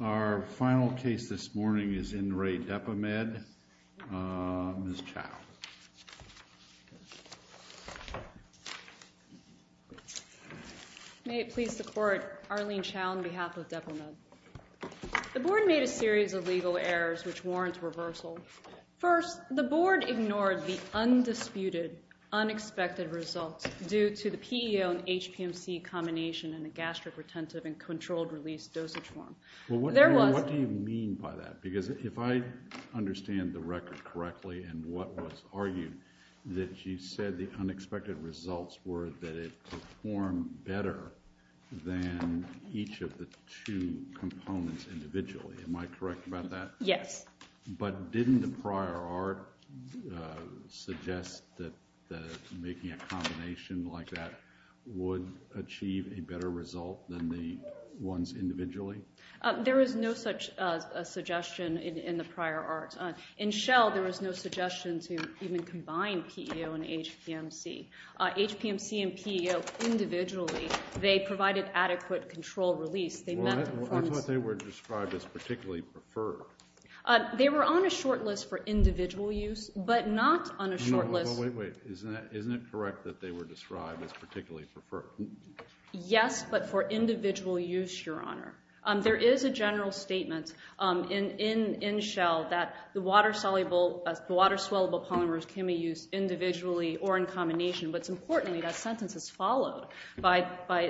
Our final case this morning is In Re Depomed, Ms. Chow. May it please the Court, Arlene Chow on behalf of Depomed. The Board made a series of legal errors which warrant reversal. First, the Board ignored the undisputed, unexpected results due to the PEO and HPMC combination in a gastric retentive and controlled release dosage form. What do you mean by that? Because if I understand the record correctly and what was argued, that you said the unexpected results were that it performed better than each of the two components individually. Am I correct about that? Yes. But didn't the prior art suggest that making a combination like that would achieve a better result than the ones individually? There is no such suggestion in the prior art. In Shell, there was no suggestion to even combine PEO and HPMC. HPMC and PEO individually, they provided adequate control release. That's what they were described as particularly preferred. They were on a short list for individual use, but not on a short list. Isn't it correct that they were described as particularly preferred? Yes, but for individual use, Your Honor. There is a general statement in Shell that the water-soluble polymers can be used individually or in combination, but it's important that that sentence is followed by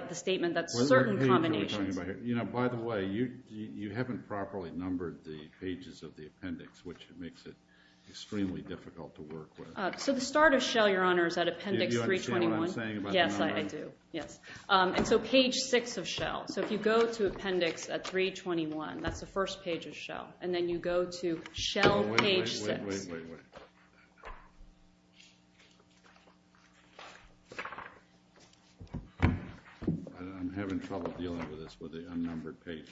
the statement that certain combinations By the way, you haven't properly numbered the pages of the appendix, which makes it extremely difficult to work with. So the start of Shell, Your Honor, is at appendix 321. Do you understand what I'm saying about the number? Yes, I do. And so page 6 of Shell. So if you go to appendix 321, that's the first page of Shell, and then you go to Shell page 6. Wait, wait, wait. I'm having trouble dealing with this with the unnumbered pages.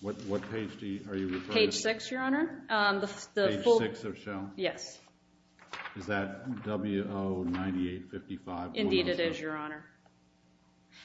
What page are you referring to? Page 6, Your Honor. Page 6 of Shell? Yes. Is that W09855? Indeed it is, Your Honor.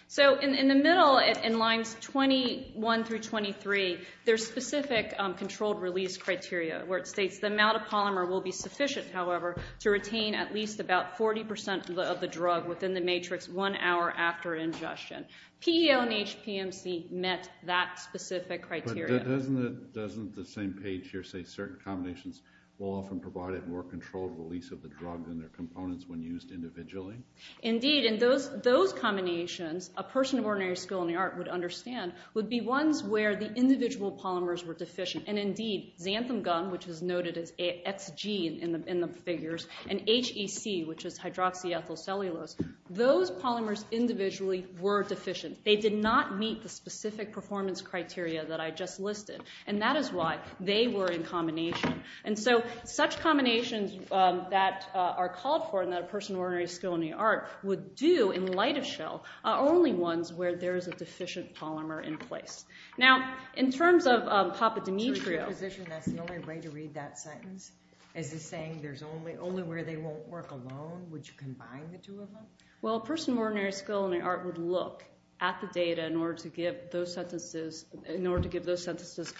So in the middle, in lines 21 through 23, there's specific controlled release criteria where it states the amount of polymer will be sufficient, however, to retain at least about 40% of the drug within the matrix one hour after ingestion. PEL and HPMC met that specific criteria. But doesn't the same page here say certain combinations will often provide a more controlled release of the drug than their components when used individually? Indeed. And those combinations, a person of ordinary skill in the art would understand, would be ones where the individual polymers were deficient. And indeed, xantham gum, which is noted as XG in the figures, and HEC, which is hydroxyethyl cellulose, those polymers individually were deficient. They did not meet the specific performance criteria that I just listed. And that is why they were in combination. And so such combinations that are called for and that a person of ordinary skill in the art would do in light of Shell are only ones where there is a deficient polymer in place. Now, in terms of Papa Demetrio. So in your position that's the only way to read that sentence? Is it saying there's only where they won't work alone? Would you combine the two of them? Well, a person of ordinary skill in the art would look at the data in order to give those sentences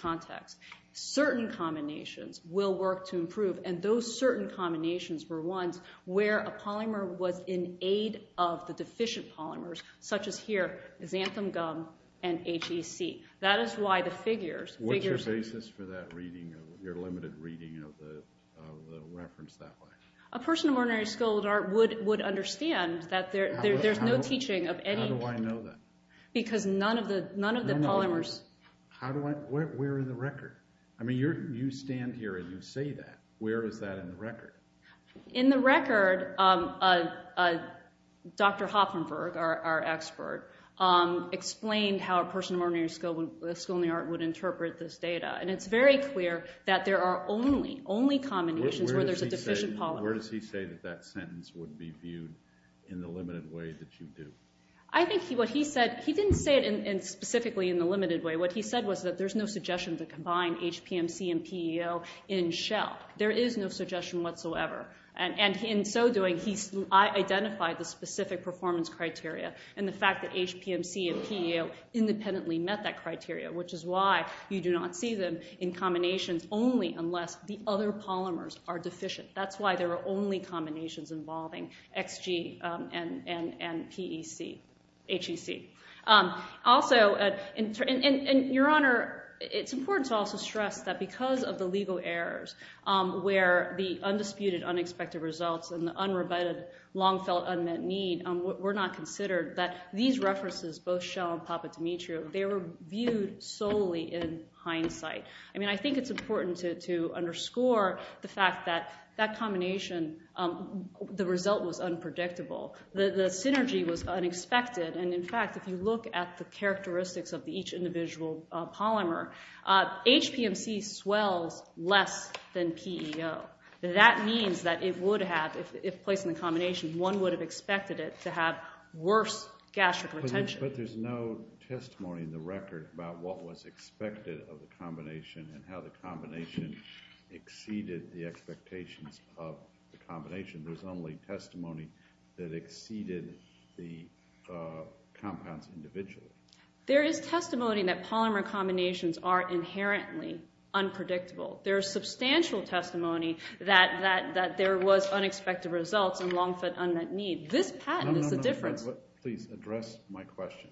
context. Certain combinations will work to improve, and those certain combinations were ones where a polymer was in aid of the deficient polymers, such as here, xantham gum and HEC. That is why the figures. What's your basis for that reading, your limited reading of the reference that way? A person of ordinary skill in the art would understand that there's no teaching of anything. How do I know that? Because none of the polymers. Where in the record? I mean, you stand here and you say that. Where is that in the record? In the record, Dr. Hoppenberg, our expert, explained how a person of ordinary skill in the art would interpret this data. And it's very clear that there are only combinations where there's a deficient polymer. Where does he say that that sentence would be viewed in the limited way that you do? I think what he said, he didn't say it specifically in the limited way. What he said was that there's no suggestion to combine HPMC and PEO in Shell. There is no suggestion whatsoever. And in so doing, he identified the specific performance criteria which is why you do not see them in combinations only unless the other polymers are deficient. That's why there are only combinations involving XG and PEC, HEC. Also, and your honor, it's important to also stress that because of the legal errors where the undisputed, unexpected results and the unrebutted, long-felt, unmet need were not considered, that these references, both Shell and Papa Demetrio, they were viewed solely in hindsight. I mean, I think it's important to underscore the fact that that combination, the result was unpredictable. The synergy was unexpected. And in fact, if you look at the characteristics of each individual polymer, HPMC swells less than PEO. That means that it would have, if placed in the combination, one would have expected it to have worse gastric retention. But there's no testimony in the record about what was expected of the combination and how the combination exceeded the expectations of the combination. There's only testimony that exceeded the compounds individually. There is testimony that polymer combinations are inherently unpredictable. There is substantial testimony that there was unexpected results and long-felt unmet need. This patent is the difference. Can I please address my question?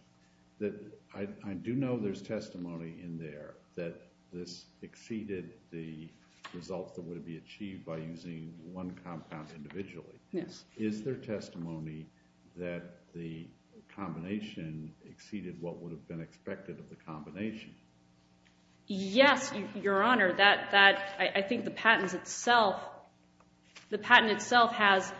I do know there's testimony in there that this exceeded the results that would have been achieved by using one compound individually. Is there testimony that the combination exceeded what would have been expected of the combination? Yes, Your Honor. I think the patent itself has,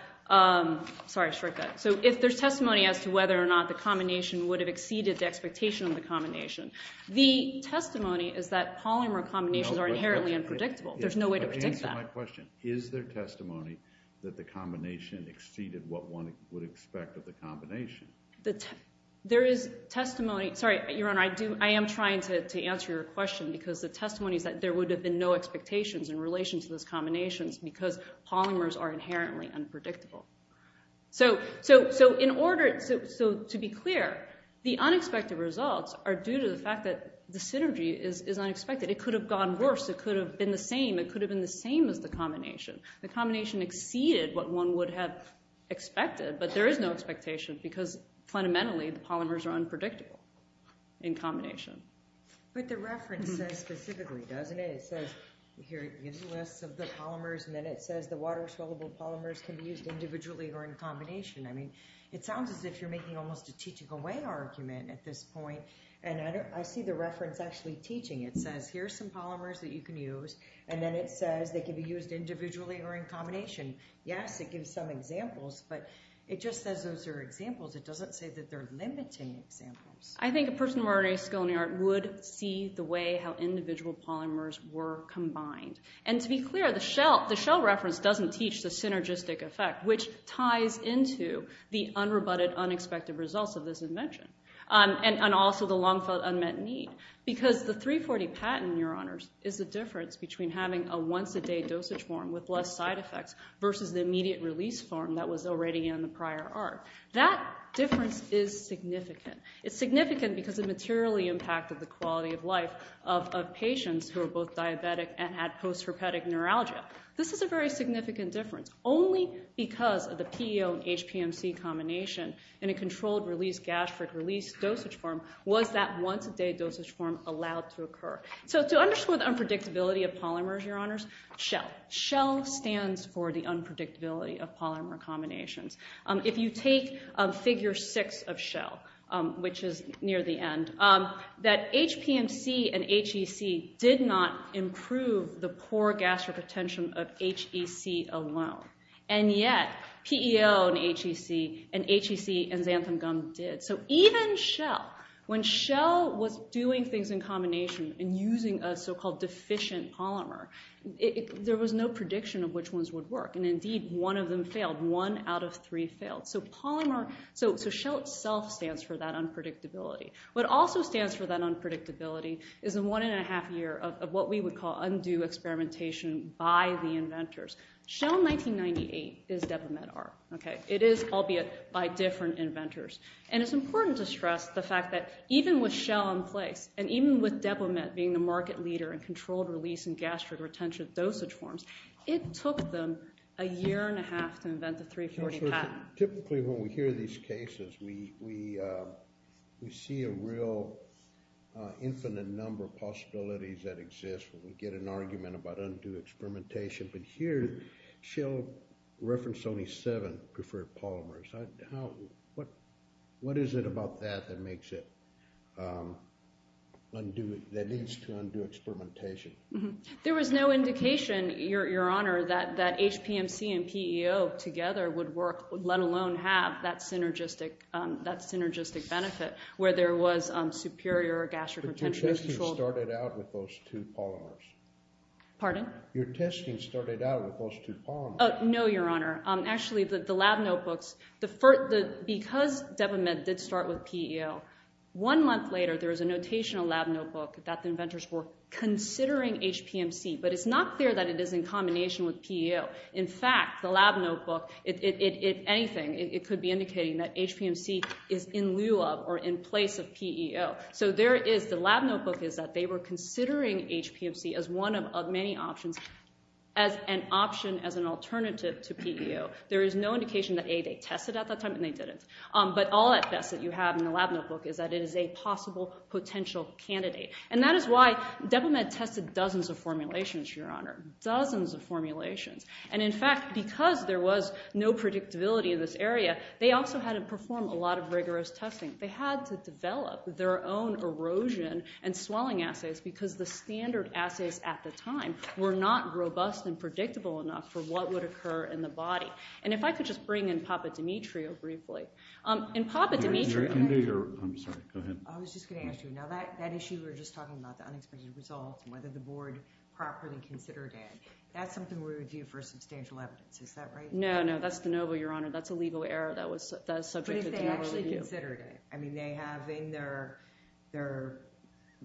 sorry, short cut. If there's testimony as to whether or not the combination would have exceeded the expectation of the combination, the testimony is that polymer combinations are inherently unpredictable. There's no way to predict that. Answer my question. Is there testimony that the combination exceeded what one would expect of the combination? There is testimony, sorry, Your Honor, I am trying to answer your question because the testimony is that there would have been no expectations in relation to those combinations because polymers are inherently unpredictable. So to be clear, the unexpected results are due to the fact that the synergy is unexpected. It could have gone worse. It could have been the same. It could have been the same as the combination. The combination exceeded what one would have expected, but there is no expectation because fundamentally the polymers are unpredictable in combination. But the reference says specifically, doesn't it? It says here it gives a list of the polymers, and then it says the water-soluble polymers can be used individually or in combination. I mean, it sounds as if you're making almost a teaching away argument at this point, and I see the reference actually teaching. It says here are some polymers that you can use, and then it says they can be used individually or in combination. Yes, it gives some examples, but it just says those are examples. It doesn't say that they're limiting examples. I think a person with a moderate skill in the art would see the way how individual polymers were combined, and to be clear, the Shell reference doesn't teach the synergistic effect, which ties into the unrebutted, unexpected results of this invention and also the long-felt unmet need because the 340 patent, Your Honors, is the difference between having a once-a-day dosage form with less side effects versus the immediate release form that was already in the prior art. That difference is significant. It's significant because it materially impacted the quality of life of patients who are both diabetic and had post-herpetic neuralgia. This is a very significant difference. Only because of the PEO and HPMC combination in a controlled-release, gastric-release dosage form was that once-a-day dosage form allowed to occur. So to underscore the unpredictability of polymers, Your Honors, Shell. Shell stands for the unpredictability of polymer combinations. If you take Figure 6 of Shell, which is near the end, that HPMC and HEC did not improve the poor gastric retention of HEC alone, and yet PEO and HEC and HEC and xanthan gum did. So even Shell, when Shell was doing things in combination and using a so-called deficient polymer, there was no prediction of which ones would work, and indeed one of them failed. One out of three failed. So Shell itself stands for that unpredictability. What also stands for that unpredictability is a one-and-a-half year of what we would call undue experimentation by the inventors. Shell 1998 is DepoMet art. It is, albeit, by different inventors. And it's important to stress the fact that even with Shell in place and even with DepoMet being the market leader in controlled-release and gastric-retention dosage forms, it took them a year-and-a-half to invent the 340 patent. Typically, when we hear these cases, we see a real infinite number of possibilities that exist when we get an argument about undue experimentation. But here, Shell referenced only seven preferred polymers. What is it about that that makes it undue, that leads to undue experimentation? There was no indication, Your Honor, that HPMC and PEO together would work, let alone have that synergistic benefit where there was superior gastric-retention control. But your testing started out with those two polymers. Pardon? Your testing started out with those two polymers. Oh, no, Your Honor. Actually, the lab notebooks, because DepoMet did start with PEO, one month later there was a notational lab notebook that the inventors were considering HPMC. But it's not clear that it is in combination with PEO. In fact, the lab notebook, if anything, it could be indicating that HPMC is in lieu of or in place of PEO. So the lab notebook is that they were considering HPMC as one of many options, as an option, as an alternative to PEO. There is no indication that, A, they tested at that time and they didn't. But all that test that you have in the lab notebook is that it is a possible potential candidate. And that is why DepoMet tested dozens of formulations, Your Honor, dozens of formulations. And, in fact, because there was no predictability in this area, they also had to perform a lot of rigorous testing. They had to develop their own erosion and swelling assays because the standard assays at the time were not robust and predictable enough for what would occur in the body. And if I could just bring in Papa Demetrio briefly. And Papa Demetrio... I'm sorry, go ahead. I was just going to ask you, now that issue we were just talking about, the unexpected results, whether the board properly considered it, that's something we would view for substantial evidence. Is that right? No, no, that's de novo, Your Honor. That's a legal error that was subjected to review. But if they actually considered it. I mean, they have in their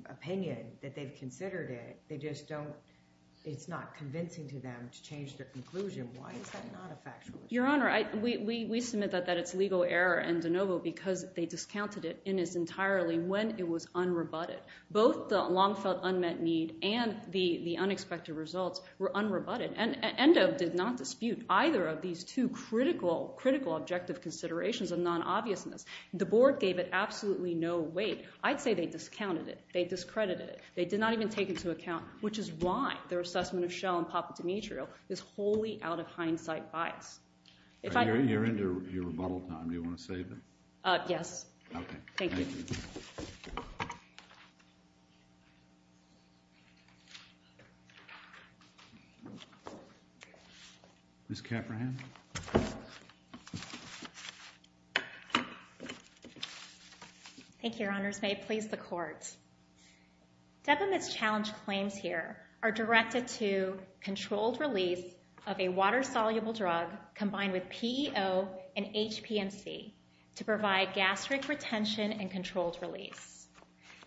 opinion that they've considered it. They just don't... It's not convincing to them to change their conclusion. Why is that not a factual issue? Your Honor, we submit that it's legal error and de novo because they discounted it in its entirety when it was unrebutted. Both the long-felt unmet need and the unexpected results were unrebutted. And ENDO did not dispute either of these two critical, critical objective considerations of non-obviousness. The board gave it absolutely no weight. I'd say they discounted it. They discredited it. They did not even take into account, which is why their assessment of Shell and Papa Demetrio is wholly out of hindsight bias. You're into your rebuttal time. Do you want to save it? Yes. Okay. Thank you. Ms. Caprahan. Thank you, Your Honors. May it please the Court. Demetrio's challenge claims here are directed to controlled release of a water-soluble drug combined with PEO and HPMC to provide gastric retention and controlled release.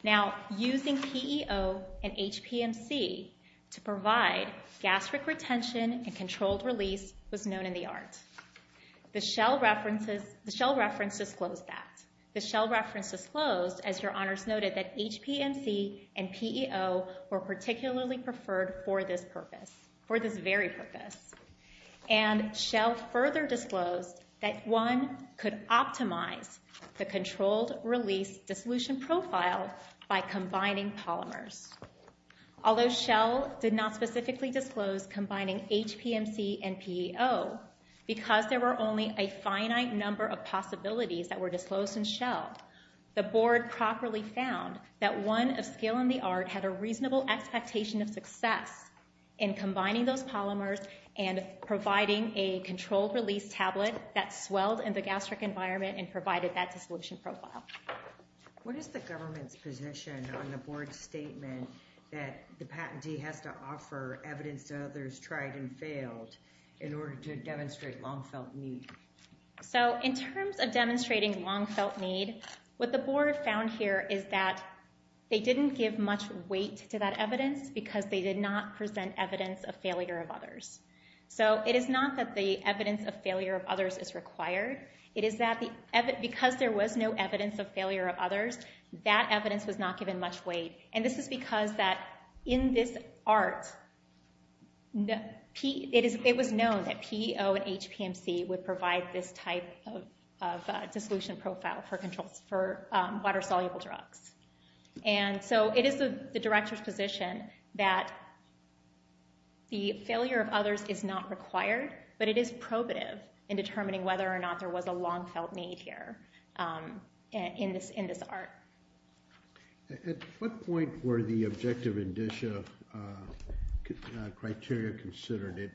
Now, using PEO and HPMC to provide gastric retention and controlled release was known in the art. The Shell reference disclosed that. The Shell reference disclosed, as Your Honors noted, that HPMC and PEO were particularly preferred for this purpose, for this very purpose. And Shell further disclosed that one could optimize the controlled release dissolution profile by combining polymers. Although Shell did not specifically disclose combining HPMC and PEO, because there were only a finite number of possibilities that were disclosed in Shell, the Board properly found that one of scale in the art had a reasonable expectation of success in combining those polymers and providing a controlled release tablet that swelled in the gastric environment and provided that dissolution profile. What is the government's position on the Board's statement that the patentee has to offer evidence that others tried and failed in order to demonstrate long-felt need? So in terms of demonstrating long-felt need, what the Board found here is that they didn't give much weight to that evidence because they did not present evidence of failure of others. So it is not that the evidence of failure of others is required. It is that because there was no evidence of failure of others, that evidence was not given much weight. And this is because that in this art, it was known that PEO and HPMC would provide this type of dissolution profile for water-soluble drugs. And so it is the Director's position that the failure of others is not required, but it is probative in determining whether or not there was a long-felt need here in this art. At what point were the objective indicia criteria considered?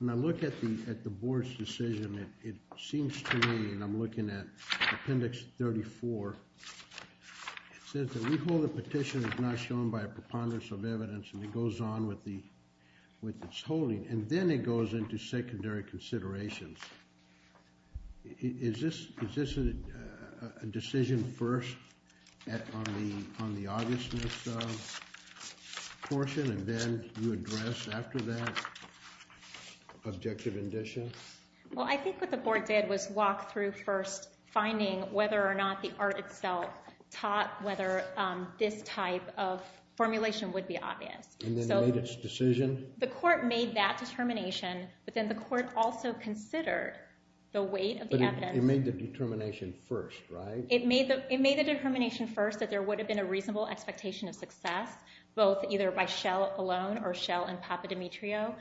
When I look at the Board's decision, it seems to me, and I'm looking at Appendix 34, it says that we hold the petition as not shown by a preponderance of evidence, and it goes on with its holding, and then it goes into secondary considerations. Is this a decision first on the augustness portion, and then you address after that objective indicia? Well, I think what the Board did was walk through first finding whether or not the art itself taught whether this type of formulation would be obvious. And then made its decision? The Court made that determination, but then the Court also considered the weight of the evidence. But it made the determination first, right? It made the determination first that there would have been a reasonable expectation of success, both either by Schell alone or Schell and Papadimitriou,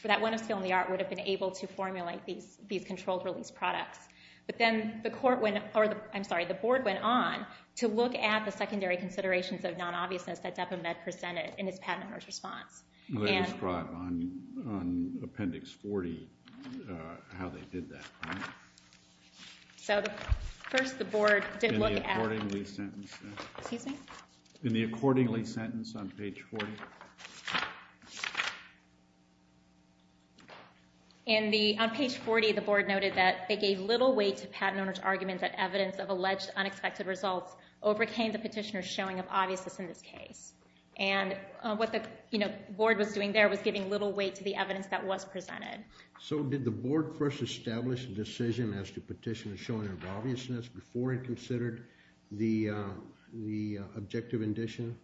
for that one of skill in the art, would have been able to formulate these controlled-release products. But then the Board went on to look at the secondary considerations of non-obviousness that Dept of Med presented in its Patent and Merge response. Can you describe on Appendix 40 how they did that? So first the Board did look at... In the accordingly sentence? Excuse me? In the accordingly sentence on page 40? On page 40 the Board noted that they gave little weight to Patent and Merge's argument that evidence of alleged unexpected results overcame the petitioner's showing of obviousness in this case. And what the Board was doing there was giving little weight to the evidence that was presented. So did the Board first establish a decision as to petitioner's showing of obviousness before it considered the objective indication?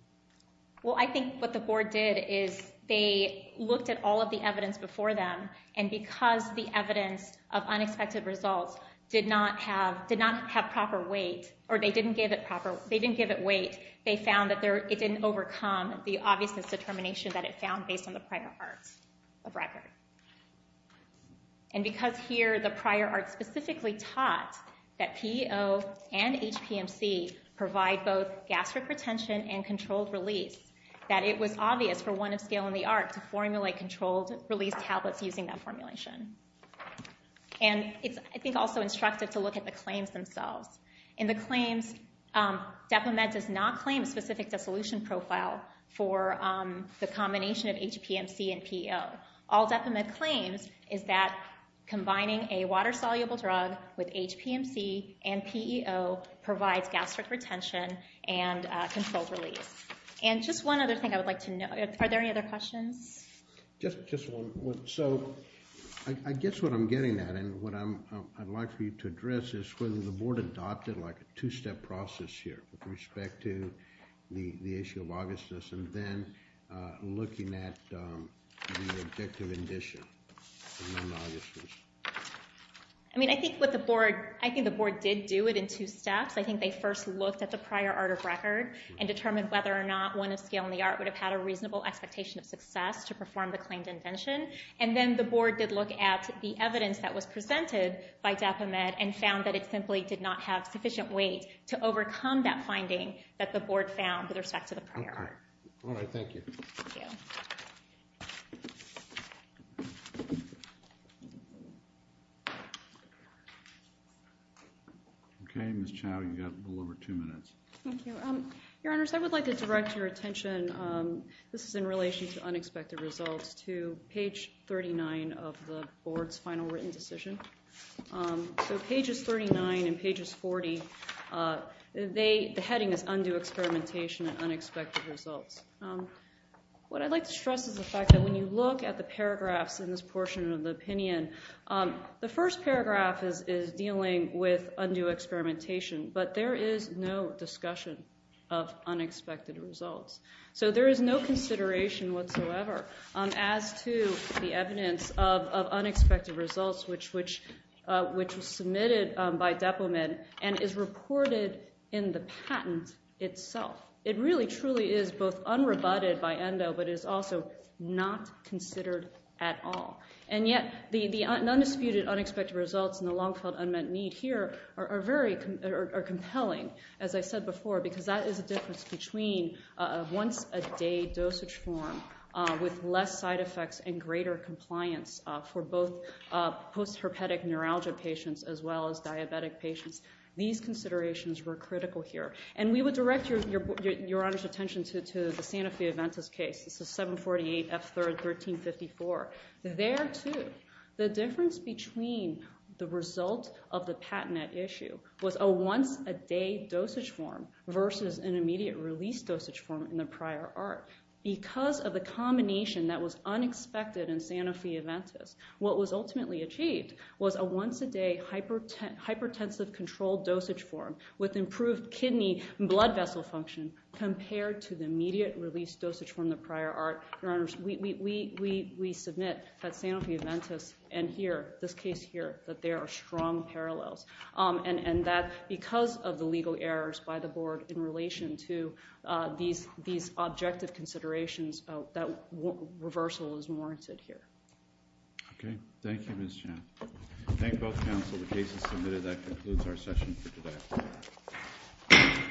Well, I think what the Board did is they looked at all of the evidence before them and because the evidence of unexpected results did not have proper weight, or they didn't give it weight, they found that it didn't overcome the obviousness determination that it found based on the prior arts of record. And because here the prior arts specifically taught that PEO and HPMC provide both gastric retention and controlled release, that it was obvious for one of Scale and the Art to formulate controlled release tablets using that formulation. And it's, I think, also instructive to look at the claims themselves. In the claims, DepoMed does not claim a specific dissolution profile for the combination of HPMC and PEO. All DepoMed claims is that combining a water-soluble drug with HPMC and PEO provides gastric retention and controlled release. And just one other thing I would like to know, are there any other questions? Just one. So, I guess what I'm getting at, and what I'd like for you to address, is whether the board adopted, like, a two-step process here with respect to the issue of obviousness and then looking at the objective indicion of non-obviousness. I mean, I think the board did do it in two steps. I think they first looked at the prior art of record and determined whether or not one of Scale and the Art would have had a reasonable expectation of success to perform the claimed invention. And then the board did look at the evidence that was presented by DepoMed and found that it simply did not have sufficient weight to overcome that finding that the board found with respect to the prior art. All right, thank you. Thank you. Okay, Ms. Chau, you've got a little over two minutes. Thank you. Your Honors, I would like to direct your attention, this is in relation to unexpected results, to page 39 of the board's final written decision. So pages 39 and pages 40, the heading is Undue Experimentation and Unexpected Results. What I'd like to stress is the fact that when you look at the paragraphs in this portion of the opinion, the first paragraph is dealing with undue experimentation, but there is no discussion of unexpected results. So there is no consideration whatsoever as to the evidence of unexpected results, which was submitted by DepoMed and is reported in the patent itself. It really truly is both unrebutted by ENDO, but is also not considered at all. And yet the undisputed unexpected results and the long-held unmet need here are compelling, as I said before, because that is a difference between a once-a-day dosage form with less side effects and greater compliance for both post-herpetic neuralgia patients as well as diabetic patients. These considerations were critical here. And we would direct Your Honors' attention to the Sanofi-Aventis case. This is 748F3, 1354. There, too, the difference between the result of the patent at issue was a once-a-day dosage form versus an immediate release dosage form in the prior art. Because of the combination that was unexpected in Sanofi-Aventis, what was ultimately achieved was a once-a-day hypertensive controlled dosage form with improved kidney and blood vessel function compared to the immediate release dosage form in the prior art. Your Honors, we submit that Sanofi-Aventis and here, this case here, that there are strong parallels. And that because of the legal errors by the board in relation to these objective considerations, that reversal is warranted here. Okay. Thank you, Ms. Chan. Thank both counsel. The case is submitted. That concludes our session for today.